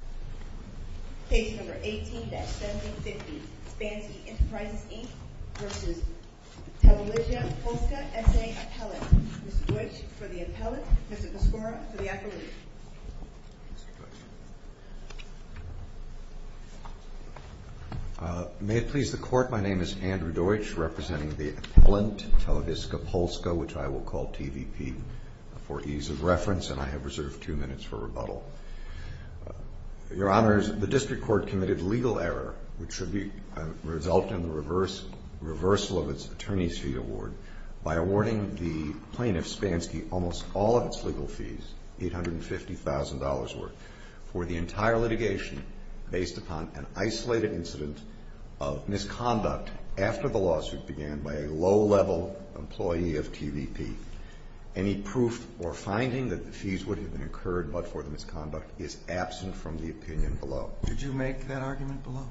Appellant. Mr. Deutsch for the Appellant. Mr. Pascora for the Appellant. May it please the Court, my name is Andrew Deutsch, representing the Appellant, Televizja Polska, which I will call TVP for ease of reference, and I have reserved two minutes for rebuttal. Your Honors, the District Court committed legal error which should result in the reversal of its Attorney's Fee Award by awarding the plaintiff, Spanski, almost all of its legal fees, $850,000 worth, for the entire litigation based upon an isolated incident of misconduct after the lawsuit began by a low-level employee of TVP. Any proof or finding that the fees would have been incurred but for the misconduct is absent from the opinion below. Did you make that argument below?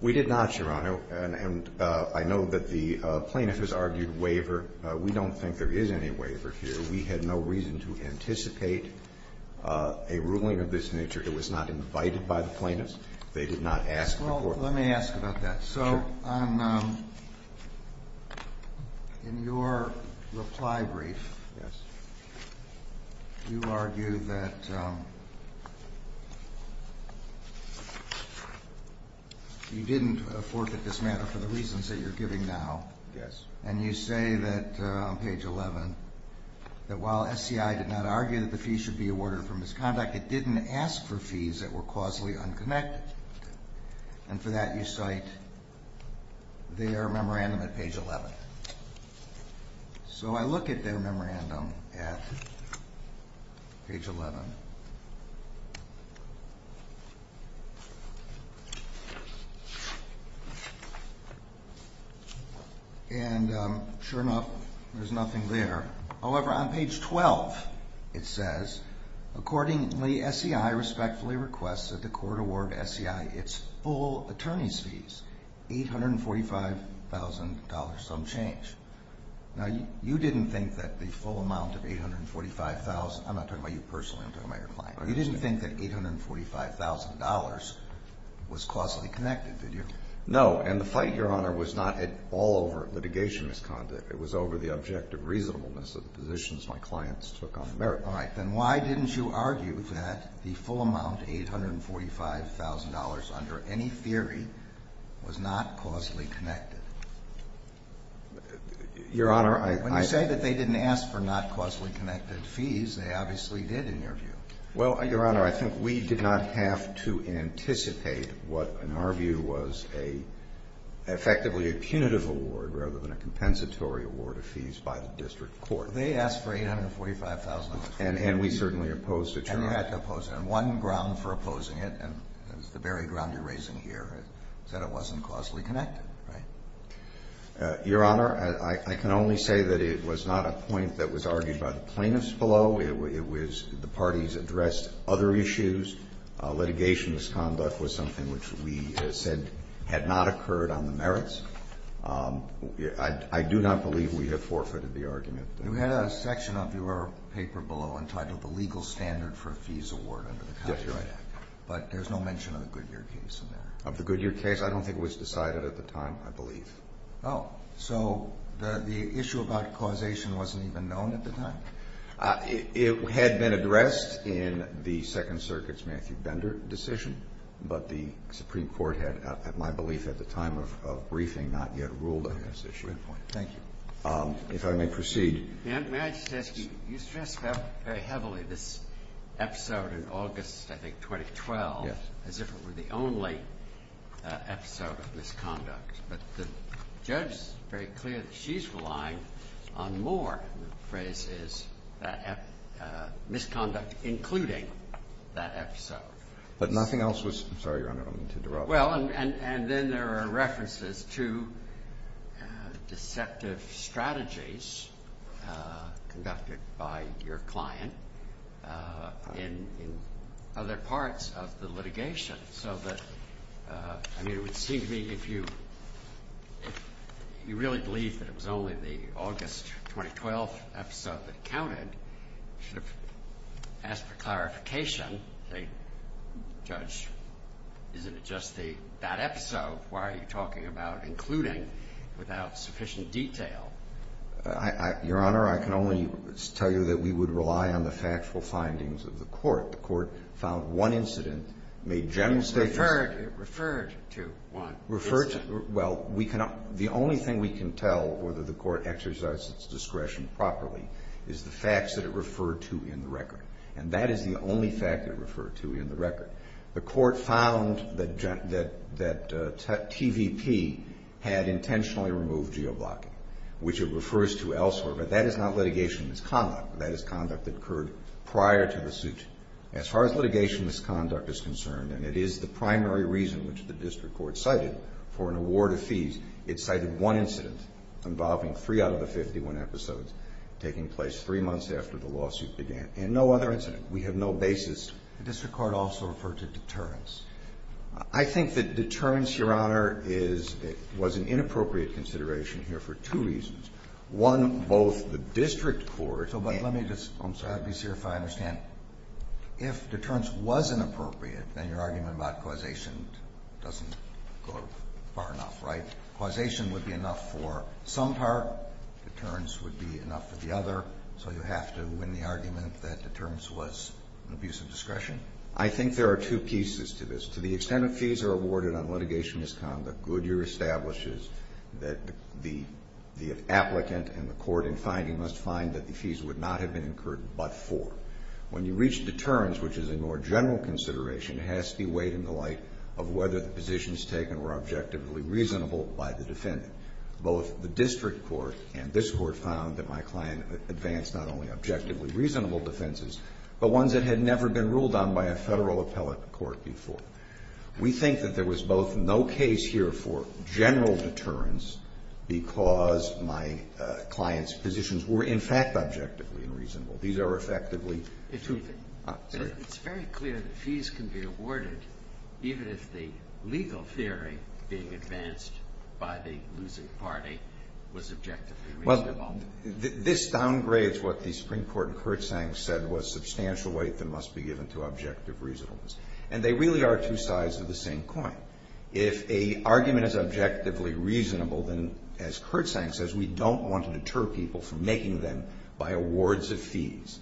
We did not, Your Honor, and I know that the plaintiff has argued waiver. We don't think there is any waiver here. We had no reason to anticipate a ruling of this nature. It was not invited by the plaintiffs. They did not ask the Court. Let me ask about that. So in your reply brief, you argue that you didn't forfeit this matter for the reasons that you're giving now, and you say that, on page 11, that while SCI did not argue that the fees should be awarded for misconduct, it didn't ask for that, you cite their memorandum at page 11. So I look at their memorandum at page 11, and sure enough, there's nothing there. However, on page 12, it says, Now, you didn't think that the full amount of $845,000, I'm not talking about you personally, I'm talking about your client, you didn't think that $845,000 was causally connected, did you? No, and the fight, Your Honor, was not at all over litigation misconduct. It was over the objective reasonableness of the positions my clients took on the merits. All right. Then why didn't you argue that the full amount, $845,000, under any theory, was not causally connected? Your Honor, I — When you say that they didn't ask for not causally connected fees, they obviously did, in your view. Well, Your Honor, I think we did not have to anticipate what, in our view, was a — effectively a punitive award rather than a compensatory award of fees by the district court. Well, they asked for $845,000 of fees. And we certainly opposed it, Your Honor. And you had to oppose it. And one ground for opposing it, and it's the very ground you're raising here, is that it wasn't causally connected, right? Your Honor, I can only say that it was not a point that was argued by the plaintiffs below. It was — the parties addressed other issues. Litigation misconduct was something which we said had not occurred on the merits. I do not believe we have forfeited the argument. You had a section of your paper below entitled, The Legal Standard for a Fees Award under the Contract Act. Yes, Your Honor. But there's no mention of the Goodyear case in there. Of the Goodyear case? I don't think it was decided at the time, I believe. Oh. So the issue about causation wasn't even known at the time? It had been addressed in the Second Circuit's Matthew Bender decision, but the Supreme Court had, at my belief, at the time of briefing, not yet ruled on this issue. Good point. Thank you. If I may proceed. May I just ask you, you stress very heavily this episode in August, I think, 2012. Yes. As if it were the only episode of misconduct. But the judge is very clear that she's relying on more, and the phrase is, misconduct including that episode. But nothing else was — I'm sorry, Your Honor, I don't mean to interrupt. Well, and then there are references to deceptive strategies conducted by your client in other parts of the litigation. So that, I mean, it would seem to me if you really believed that it was only the August 2012 episode that counted, you should have asked for clarification. Judge, isn't it just that episode? Why are you talking about including without sufficient detail? Your Honor, I can only tell you that we would rely on the factual findings of the court. The court found one incident, made general statements — Referred to one incident. Well, the only thing we can tell whether the court exercised its discretion properly is the facts that it referred to in the record. And that is the only fact it referred to in the record. The court found that TVP had intentionally removed geoblocking, which it refers to elsewhere. But that is not litigation misconduct. That is conduct that occurred prior to the suit. As far as litigation misconduct is concerned, and it is the primary reason which the district court cited for an award of fees, it cited one incident involving three out of the 51 episodes taking place three months after the lawsuit began. And no other incident. We have no basis. The district court also referred to deterrence. I think that deterrence, Your Honor, was an inappropriate consideration here for two reasons. One, both the district court — So, but let me just be clear if I understand. If deterrence was inappropriate, then your argument about causation doesn't go far enough, right? Causation would be enough for some part. Deterrence would be enough for the other. So you have to win the argument that deterrence was an abuse of discretion? I think there are two pieces to this. To the extent that fees are awarded on litigation misconduct, Goodyear establishes that the applicant and the court, in finding, must find that the fees would not have been incurred but for. When you reach deterrence, which is a more general consideration, it has to be weighed in the light of whether the positions taken were objectively reasonable by the defendant. Both the district court and this court found that my client advanced not only objectively reasonable defenses, but ones that had never been ruled on by a federal appellate court before. We think that there was both no case here for general deterrence because my client's positions were, in fact, objectively unreasonable. These are effectively — It's very clear that fees can be awarded, even if the legal theory being advanced by the losing party was objectively reasonable. Well, this downgrades what the Supreme Court in Kurtzank said was substantial weight that must be given to objective reasonableness. And they really are two sides of the same coin. If a argument is objectively reasonable, then, as Kurtzank says, we don't want to deter people from making them by awards of fees.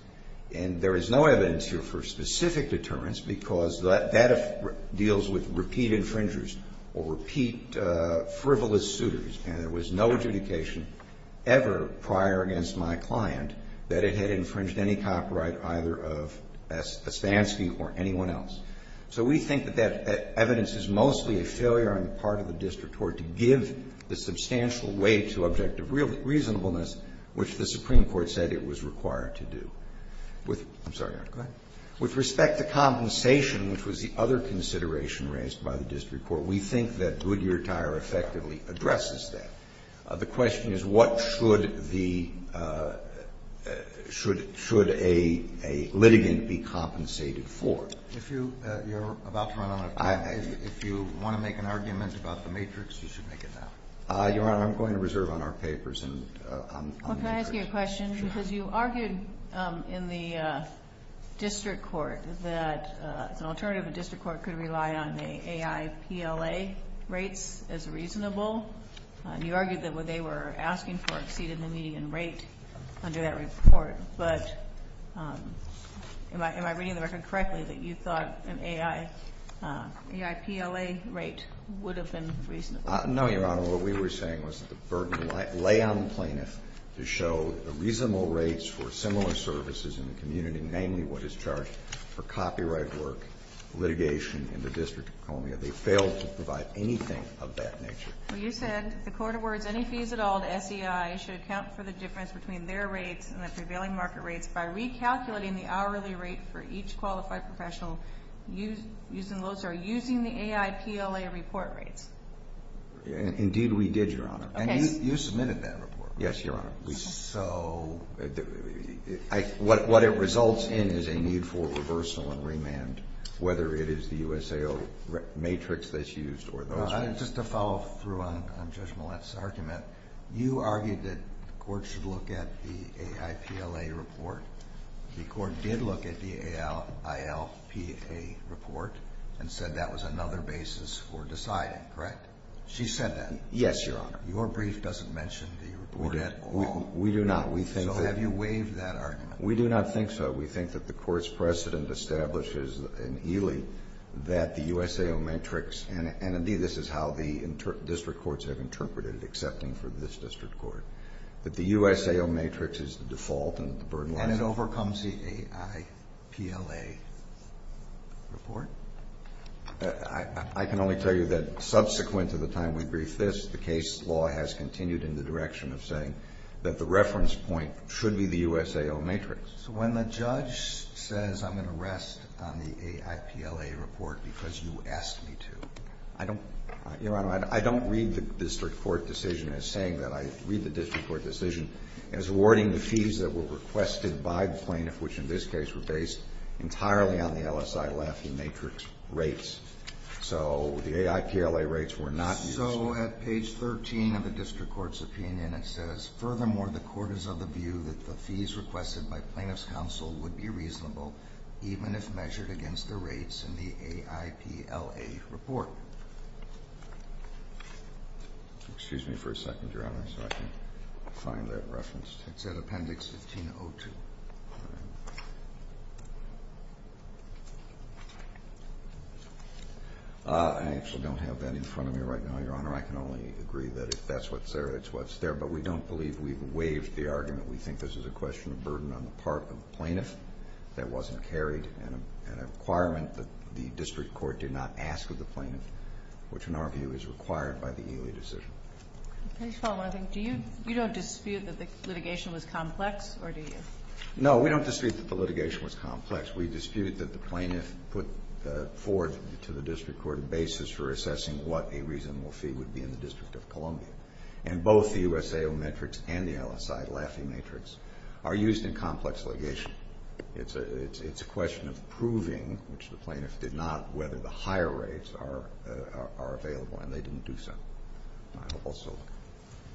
And there is no evidence here for specific deterrence because that deals with repeat infringers or repeat frivolous suitors. And there was no adjudication ever prior against my client that it had infringed any copyright, either of Svansky or anyone else. So we think that that evidence is mostly a failure on the part of the district court to give the substantial weight to objective reasonableness, which the Supreme Court said it was required to do. With — I'm sorry, Your Honor. Go ahead. With respect to compensation, which was the other consideration raised by the district court, we think that Goodyear Tire effectively addresses that. The question is what should the — should a litigant be compensated for. If you're about to run out of time, if you want to make an argument about the matrix, you should make it now. Your Honor, I'm going to reserve on our papers and on the matrix. Well, can I ask you a question? Because you argued in the district court that an alternative in district court could rely on the AIPLA rates as reasonable. And you argued that what they were asking for exceeded the median rate under that report. But am I reading the record correctly, that you thought an AIPLA rate would have been reasonable? No, Your Honor. Your Honor, what we were saying was that the burden lay on the plaintiff to show the reasonable rates for similar services in the community, namely what is charged for copyright work, litigation in the District of Columbia. They failed to provide anything of that nature. Well, you said the court awards any fees at all to SEI should account for the difference between their rates and the prevailing market rates by recalculating the hourly rate for each qualified professional using the AIPLA report rates. Indeed, we did, Your Honor. And you submitted that report. Yes, Your Honor. So what it results in is a need for reversal and remand, whether it is the USAO matrix that's used or those rates. Just to follow through on Judge Millett's argument, you argued that the court should look at the AIPLA report. The court did look at the AILPA report and said that was another basis for deciding, correct? She said that. Yes, Your Honor. Your brief doesn't mention the report at all. We do not. We think that- So have you waived that argument? We do not think so. We think that the court's precedent establishes in Ely that the USAO matrix, and indeed this is how the district courts have interpreted it, excepting for this district court. That the USAO matrix is the default and the burden- And it overcomes the AIPLA report? I can only tell you that subsequent to the time we briefed this, the case law has continued in the direction of saying that the reference point should be the USAO matrix. So when the judge says I'm going to rest on the AIPLA report because you asked me to, I don't- So at page 13 of the district court's opinion, it says, furthermore, the court is of the view that the fees requested by plaintiff's counsel would be reasonable, even if measured against the rates in the AIPLA report. Excuse me for a second, Your Honor, so I can find that reference. It's at appendix 1502. I actually don't have that in front of me right now, Your Honor. I can only agree that if that's what's there, it's what's there. But we don't believe we've waived the argument. We think this is a question of burden on the part of the plaintiff that wasn't carried, and a requirement that the district court did not ask of the plaintiff, which in our view is required by the Ely decision. Can I just follow on that? Do you- you don't dispute that the litigation was complex, or do you? No, we don't dispute that the litigation was complex. We dispute that the plaintiff put forth to the district court a basis for assessing what a reasonable fee would be in the District of Columbia. And both the USAO matrix and the LSI, LAFI matrix, are used in complex litigation. It's a question of proving, which the plaintiff did not, whether the higher rates are available, and they didn't do so. I hope also.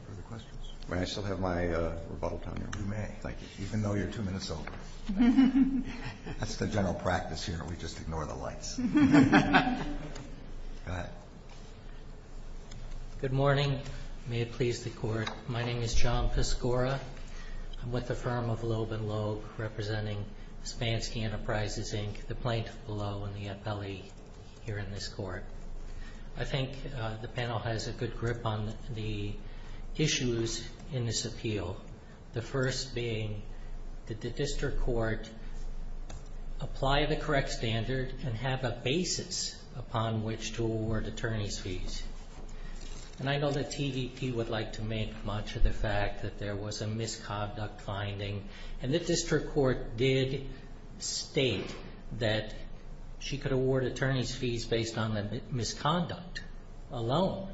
Further questions? May I still have my rebuttal time, Your Honor? You may. Thank you. Even though you're two minutes over. That's the general practice here. We just ignore the lights. Go ahead. Good morning. May it please the Court. My name is John Piscora. I'm with the firm of Loeb and Logue, representing Spansky Enterprises, Inc., the plaintiff below, and the appellee here in this court. I think the panel has a good grip on the issues in this appeal. The first being, did the district court apply the correct standard and have a basis upon which to award attorney's fees? And I know that TVP would like to make much of the fact that there was a misconduct finding. And the district court did state that she could award attorney's fees based on the misconduct alone.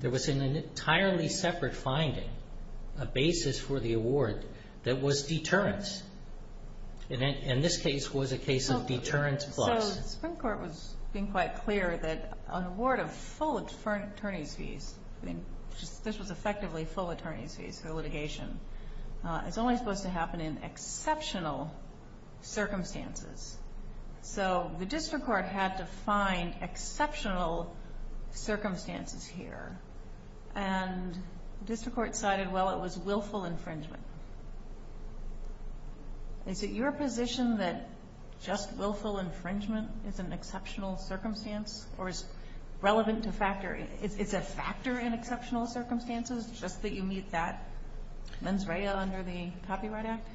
There was an entirely separate finding, a basis for the award, that was deterrence. And this case was a case of deterrence plus. So the Supreme Court was being quite clear that an award of full attorney's fees, this was effectively full attorney's fees for litigation, is only supposed to happen in exceptional circumstances. So the district court had to find exceptional circumstances here. And the district court cited, well, it was willful infringement. Is it your position that just willful infringement is an exceptional circumstance? Or is relevant to factor, it's a factor in exceptional circumstances, just that you meet that mens rea under the Copyright Act?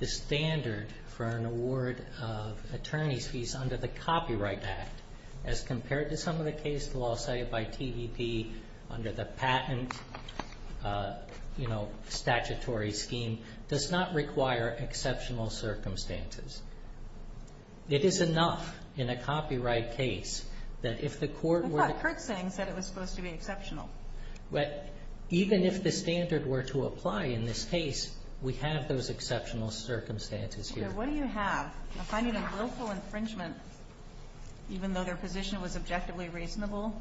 The standard for an award of attorney's fees under the Copyright Act, as compared to some of the case law cited by TVP under the patent statutory scheme, does not require exceptional circumstances. It is enough in a copyright case that if the court were to- I thought Kurtzing said it was supposed to be exceptional. But even if the standard were to apply in this case, we have those exceptional circumstances here. What do you have? A finding of willful infringement, even though their position was objectively reasonable?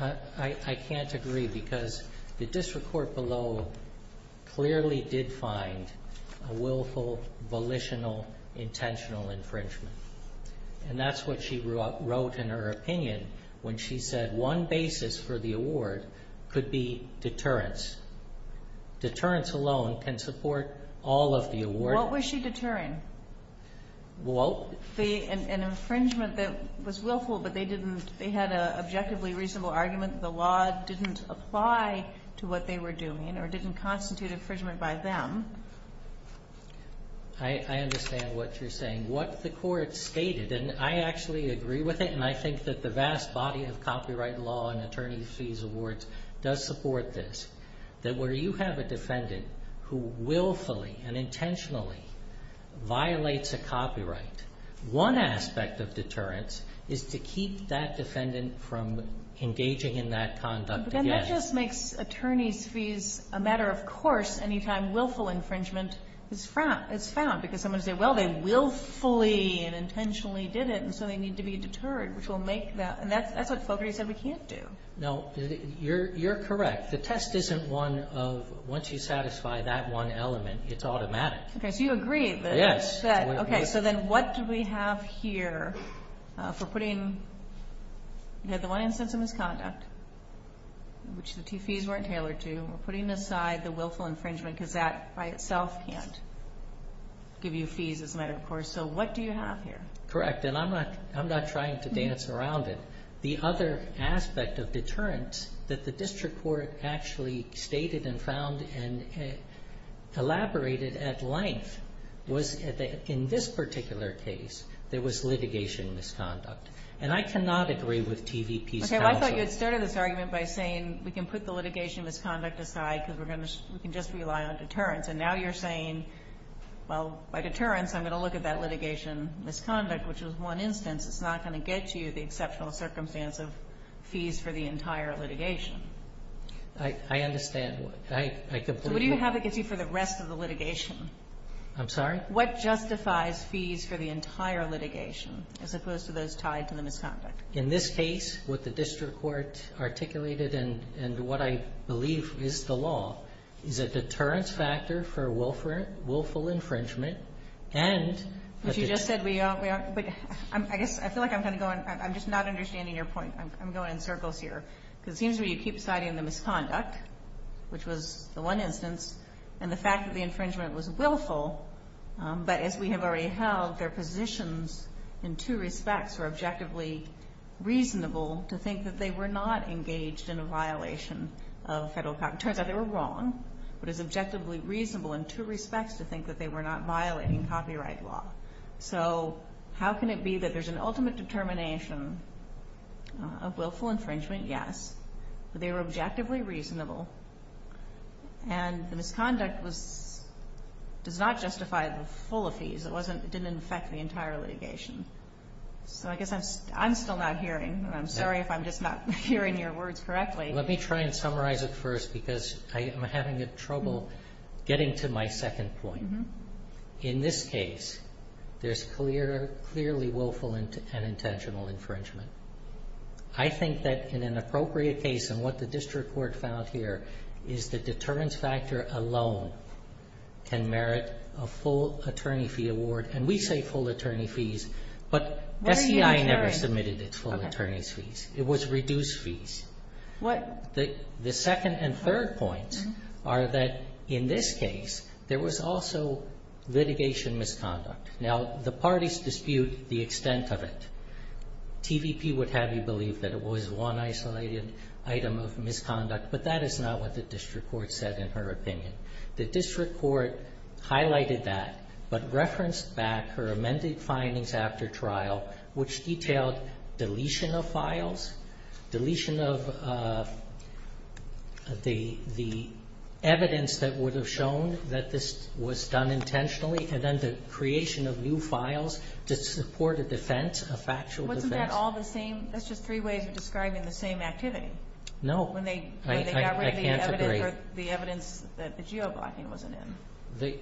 I can't agree, because the district court below clearly did find a willful, volitional, intentional infringement. And that's what she wrote in her opinion, when she said one basis for the award could be deterrence. Deterrence alone can support all of the award- What was she deterring? An infringement that was willful, but they had an objectively reasonable argument that the law didn't apply to what they were doing, or didn't constitute infringement by them. I understand what you're saying. What the court stated, and I actually agree with it, and I think that the vast body of copyright law and attorney fees awards does support this, that where you have a defendant who willfully and intentionally violates a copyright, one aspect of deterrence is to keep that defendant from engaging in that conduct again. But then that just makes attorney's fees a matter of course any time willful infringement is found, because someone will say, well, they willfully and intentionally did it, and so they need to be deterred, which will make that- And that's what Fogarty said we can't do. No, you're correct. The test isn't one of, once you satisfy that one element, it's automatic. Okay, so you agree that- Yes. Okay, so then what do we have here for putting- Misconduct, which the fees weren't tailored to, we're putting aside the willful infringement, because that by itself can't give you fees as a matter of course. So what do you have here? Correct, and I'm not trying to dance around it. The other aspect of deterrence that the district court actually stated and found and elaborated at length was that in this particular case, And I cannot agree with TVP's counsel- I thought you had started this argument by saying we can put the litigation misconduct aside, because we can just rely on deterrence, and now you're saying, well, by deterrence, I'm going to look at that litigation misconduct, which is one instance, it's not going to get you the exceptional circumstance of fees for the entire litigation. I understand. I completely- So what do you have that gets you for the rest of the litigation? I'm sorry? What justifies fees for the entire litigation, as opposed to those tied to the misconduct? In this case, what the district court articulated and what I believe is the law is a deterrence factor for willful infringement and- But you just said we aren't- I feel like I'm kind of going- I'm just not understanding your point. I'm going in circles here, because it seems to me you keep citing the misconduct, which was the one instance, and the fact that the infringement was willful, but as we have already held, their positions in two respects were objectively reasonable to think that they were not engaged in a violation of federal- It turns out they were wrong, but it's objectively reasonable in two respects to think that they were not violating copyright law. So how can it be that there's an ultimate determination of willful infringement? Yes, but they were objectively reasonable, and the misconduct does not justify the full of fees. It didn't affect the entire litigation. So I guess I'm still not hearing, and I'm sorry if I'm just not hearing your words correctly. Let me try and summarize it first, because I am having trouble getting to my second point. In this case, there's clearly willful and intentional infringement. I think that in an appropriate case, and what the district court found here, is the deterrence factor alone can merit a full attorney fee award, and we say full attorney fees, but SEI never submitted its full attorney's fees. It was reduced fees. What? The second and third points are that in this case, there was also litigation misconduct. Now, the parties dispute the extent of it. TVP would have you believe that it was one isolated item of misconduct, but that is not what the district court said in her opinion, that district court highlighted that, but referenced back her amended findings after trial, which detailed deletion of files, deletion of the evidence that would have shown that this was done intentionally, and then the creation of new files to support a defense, a factual defense. Wasn't that all the same? That's just three ways of describing the same activity. No. When they got rid of the evidence that the geo-blocking wasn't in.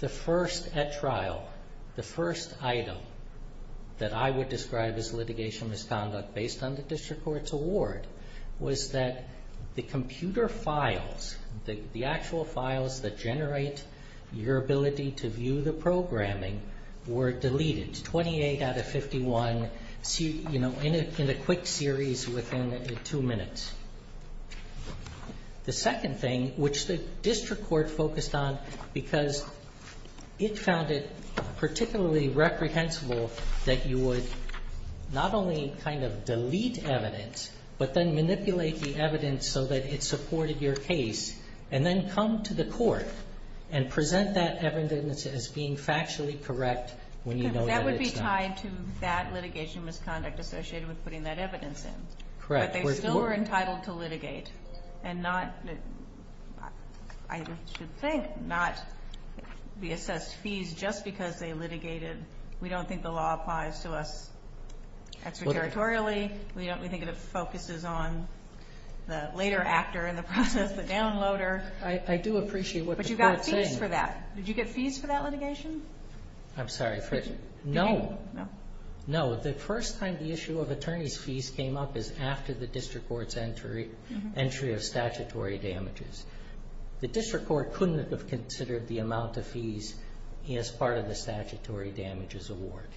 The first at trial, the first item that I would describe as litigation misconduct based on the district court's award, was that the computer files, the actual files that generate your ability to view the programming, were deleted. 28 out of 51 in a quick series within two minutes. The second thing, which the district court focused on because it found it particularly reprehensible that you would not only kind of delete evidence, but then manipulate the evidence so that it supported your case, and then come to the court and present that evidence as being factually correct when you know that it's not. That would be tied to that litigation misconduct associated with putting that evidence in. Correct. But they still were entitled to litigate and not, I should think, not be assessed fees just because they litigated. We don't think the law applies to us extraterritorially. We think it focuses on the later actor in the process, the downloader. I do appreciate what the court's saying. But you got fees for that. Did you get fees for that litigation? I'm sorry. No. No. The first time the issue of attorney's fees came up is after the district court's entry of statutory damages. The district court couldn't have considered the amount of fees as part of the statutory damages award.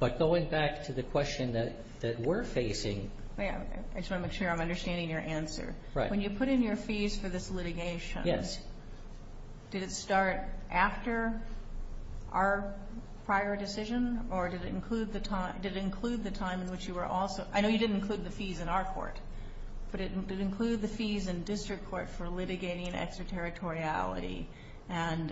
But going back to the question that we're facing. I just want to make sure I'm understanding your answer. When you put in your fees for this litigation, did it start after our prior decision? Or did it include the time in which you were also, I know you didn't include the fees in our court, but did it include the fees in district court for litigating extraterritoriality and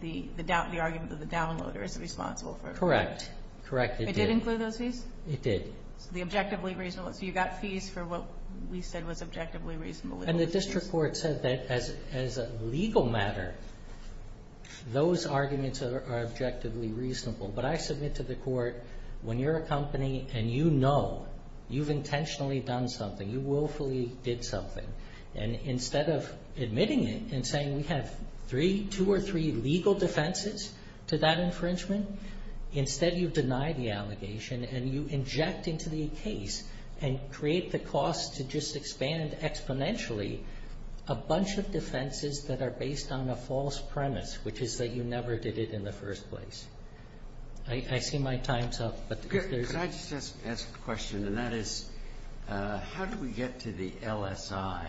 the argument that the downloader is responsible for? Correct. Correct. It did include those fees? It did. So the objectively reasonable. So you got fees for what we said was objectively reasonable. And the district court said that as a legal matter, those arguments are objectively reasonable. But I submit to the court when you're a company and you know you've intentionally done something, you willfully did something, and instead of admitting it and saying we have two or three legal defenses to that infringement, instead you deny the allegation and you inject into the case and create the cost to just expand exponentially a bunch of defenses that are based on a false premise, which is that you never did it in the first place. I see my time's up. Could I just ask a question? And that is how do we get to the LSI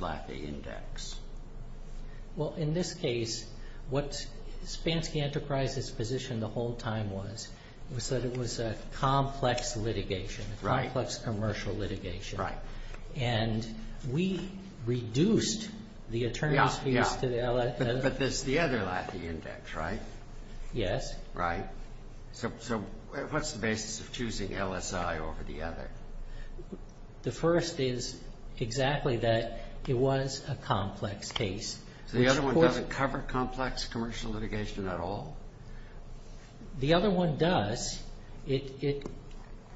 FLAFI index? Well, in this case, what Spansky Enterprises' position the whole time was was that it was a complex litigation, a complex commercial litigation. Right. And we reduced the attorney's fees to the LSI. But that's the other LAFI index, right? Yes. Right. So what's the basis of choosing LSI over the other? The first is exactly that it was a complex case. So the other one doesn't cover complex commercial litigation at all? The other one does.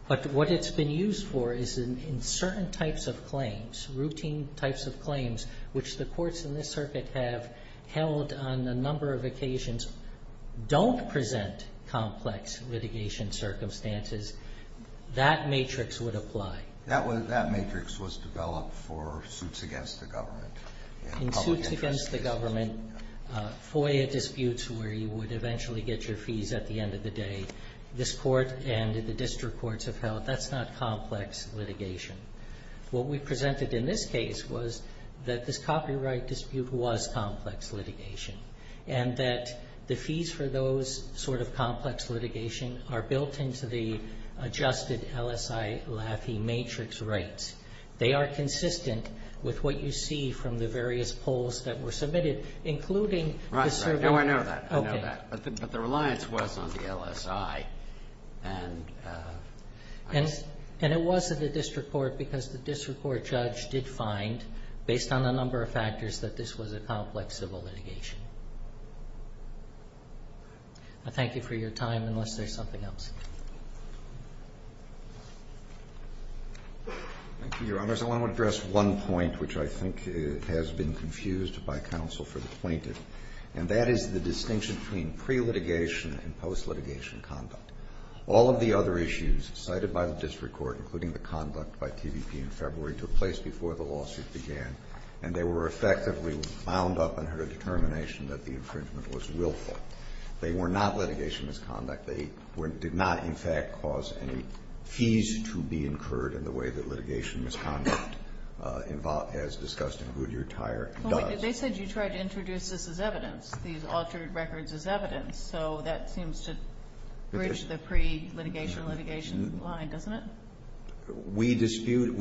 But what it's been used for is in certain types of claims, routine types of claims, which the courts in this circuit have held on a number of occasions, don't present complex litigation circumstances, that matrix would apply. That matrix was developed for suits against the government. In suits against the government, FOIA disputes where you would eventually get your fees at the end of the day. This court and the district courts have held that's not complex litigation. What we presented in this case was that this copyright dispute was complex litigation and that the fees for those sort of complex litigation are built into the adjusted LSI LAFI matrix rates. They are consistent with what you see from the various polls that were submitted, including the survey. Right, right. Now I know that. Okay. But the reliance was on the LSI. And it was in the district court because the district court judge did find, based on a number of factors, that this was a complex civil litigation. I thank you for your time, unless there's something else. Thank you, Your Honors. I want to address one point, which I think has been confused by counsel for the plaintiff, and that is the distinction between pre-litigation and post-litigation conduct. All of the other issues cited by the district court, including the conduct by TVP in February, took place before the lawsuit began, and they were effectively wound up in her determination that the infringement was willful. They were not litigation misconduct. They did not, in fact, cause any fees to be incurred in the way that litigation misconduct, as discussed in Goodyear Tire, does. They said you tried to introduce this as evidence, these altered records as evidence. So that seems to bridge the pre-litigation litigation line, doesn't it? We disputed,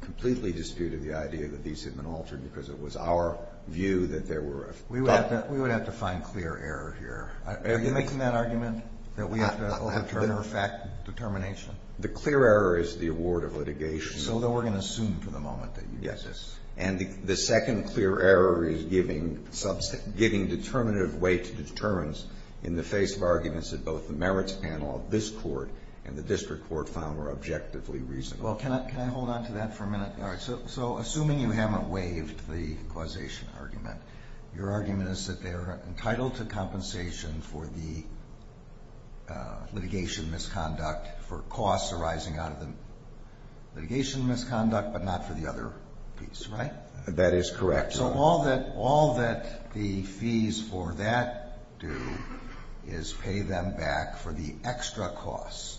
completely disputed the idea that these had been altered because it was our view that there were. We would have to find clear error here. Are you making that argument, that we have to overturn her determination? The clear error is the award of litigation. So then we're going to assume for the moment that you did this. And the second clear error is giving substantive, giving determinative weight to deterrence in the face of arguments that both the merits panel of this court and the district court found were objectively reasonable. Well, can I hold on to that for a minute? All right. So assuming you haven't waived the causation argument, your argument is that they are entitled to compensation for the litigation misconduct for costs arising out of the litigation misconduct, but not for the other piece, right? That is correct. So all that, all that the fees for that do is pay them back for the extra costs.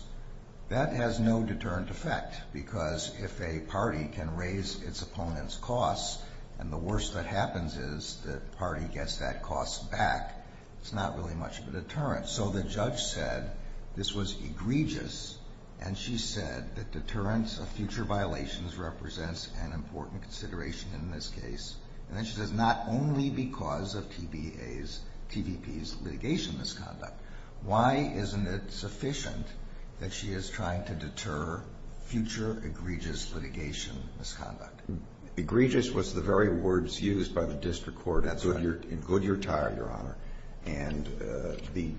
That has no deterrent effect because if a party can raise its opponent's costs and the worst that happens is the party gets that cost back, it's not really much of a deterrent. So the judge said this was egregious. And she said that deterrence of future violations represents an important consideration in this case. And then she says not only because of TBAs, TVPs litigation misconduct, why isn't it sufficient that she is trying to deter future egregious litigation misconduct? Egregious was the very words used by the district court in Goodyear Tire, Your Honor. And the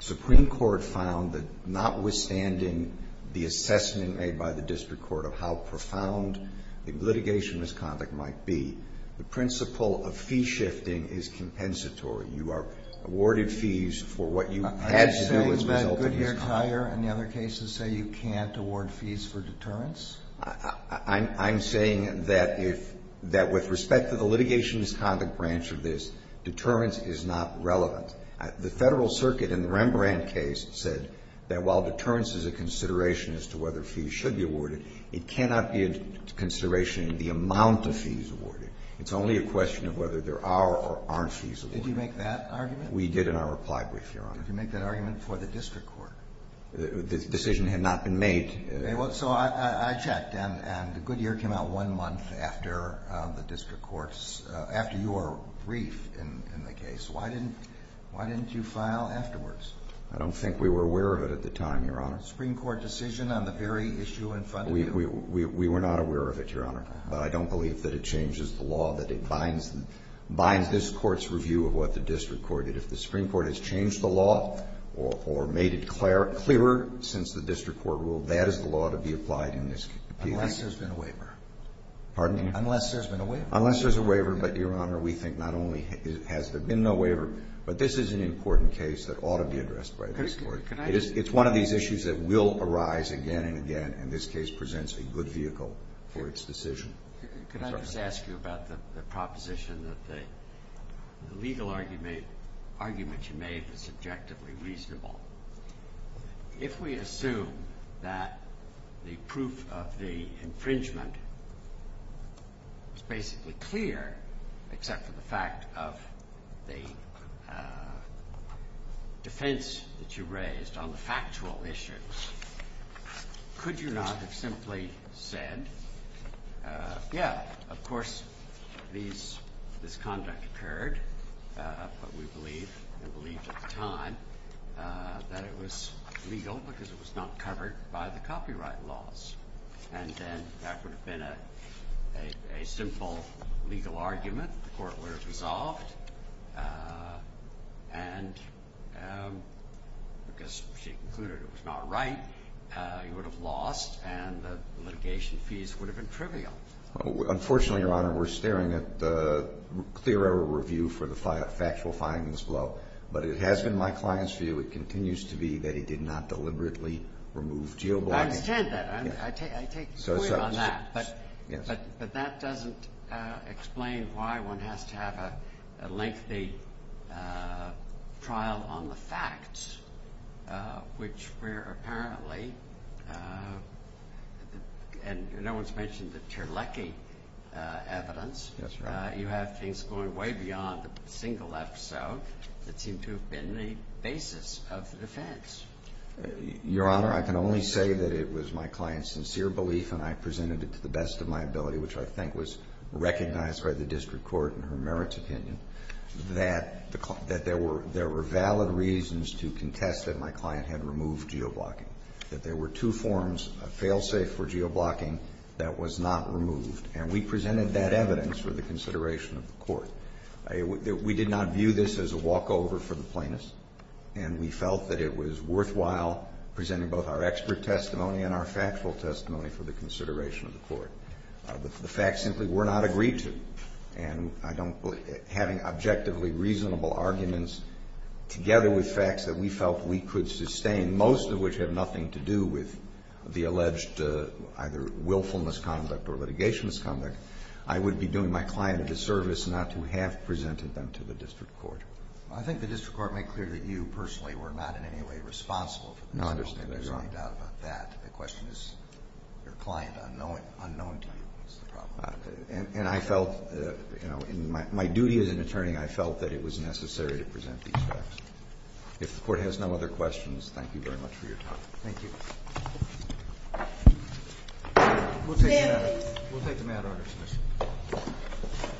Supreme Court found that notwithstanding the assessment made by the district court of how profound the litigation misconduct might be, the principle of fee shifting is compensatory. You are awarded fees for what you had to do as a result of misconduct. Are you saying that Goodyear Tire and the other cases say you can't award fees for deterrence? I'm saying that if, that with respect to the litigation misconduct branch of this, deterrence is not relevant. The Federal Circuit in the Rembrandt case said that while deterrence is a consideration as to whether fees should be awarded, it cannot be a consideration in the amount of fees awarded. It's only a question of whether there are or aren't fees awarded. Did you make that argument? We did in our reply brief, Your Honor. Did you make that argument for the district court? The decision had not been made. So I checked. And Goodyear came out one month after the district court's, after your brief in the case. Why didn't you file afterwards? I don't think we were aware of it at the time, Your Honor. Supreme Court decision on the very issue in front of you? We were not aware of it, Your Honor. But I don't believe that it changes the law, that it binds this court's review of what the district court did. If the Supreme Court has changed the law or made it clearer since the district court ruled, that is the law to be applied in this case. Unless there's been a waiver. Pardon me? Unless there's been a waiver. Unless there's a waiver. But, Your Honor, we think not only has there been no waiver, but this is an important case that ought to be addressed by this court. It's one of these issues that will arise again and again, and this case presents a good vehicle for its decision. Could I just ask you about the proposition that the legal argument you made was subjectively reasonable? If we assume that the proof of the infringement is basically clear, except for the fact of the defense that you raised on the factual issue, could you not have simply said, yeah, of course this conduct occurred, but we believed at the time that it was legal because it was not covered by the copyright laws? And then that would have been a simple legal argument. The court would have resolved, and because she concluded it was not right, you would have lost, and the litigation fees would have been trivial. Unfortunately, Your Honor, we're staring at the clear error review for the factual findings below, but it has been my client's view, it continues to be that he did not deliberately remove geoblocking. I understand that. I take the point on that, but that doesn't explain why one has to have a lengthy trial on the facts, which were apparently, and no one's mentioned the Terlecki evidence. That's right. You have things going way beyond the single episode that seemed to have been the basis of the defense. Your Honor, I can only say that it was my client's sincere belief, and I presented it to the best of my ability, which I think was recognized by the district court in her merits opinion, that there were valid reasons to contest that my client had removed geoblocking, that there were two forms of fail-safe for geoblocking that was not removed, and we presented that evidence for the consideration of the court. We did not view this as a walkover for the plaintiffs, and we felt that it was worthwhile presenting both our expert testimony and our factual testimony for the consideration of the court. The facts simply were not agreed to, and having objectively reasonable arguments together with facts that we felt we could sustain, most of which have nothing to do with the alleged either willfulness conduct or litigation misconduct, I would be doing my client a disservice not to have presented them to the district court. I think the district court made clear that you personally were not in any way responsible for this. No, I understand that, Your Honor. There's no doubt about that. The question is your client unknown to you is the problem. And I felt, you know, in my duty as an attorney, I felt that it was necessary to present these facts. If the Court has no other questions, thank you very much for your time. Thank you. We'll take the matter under submission.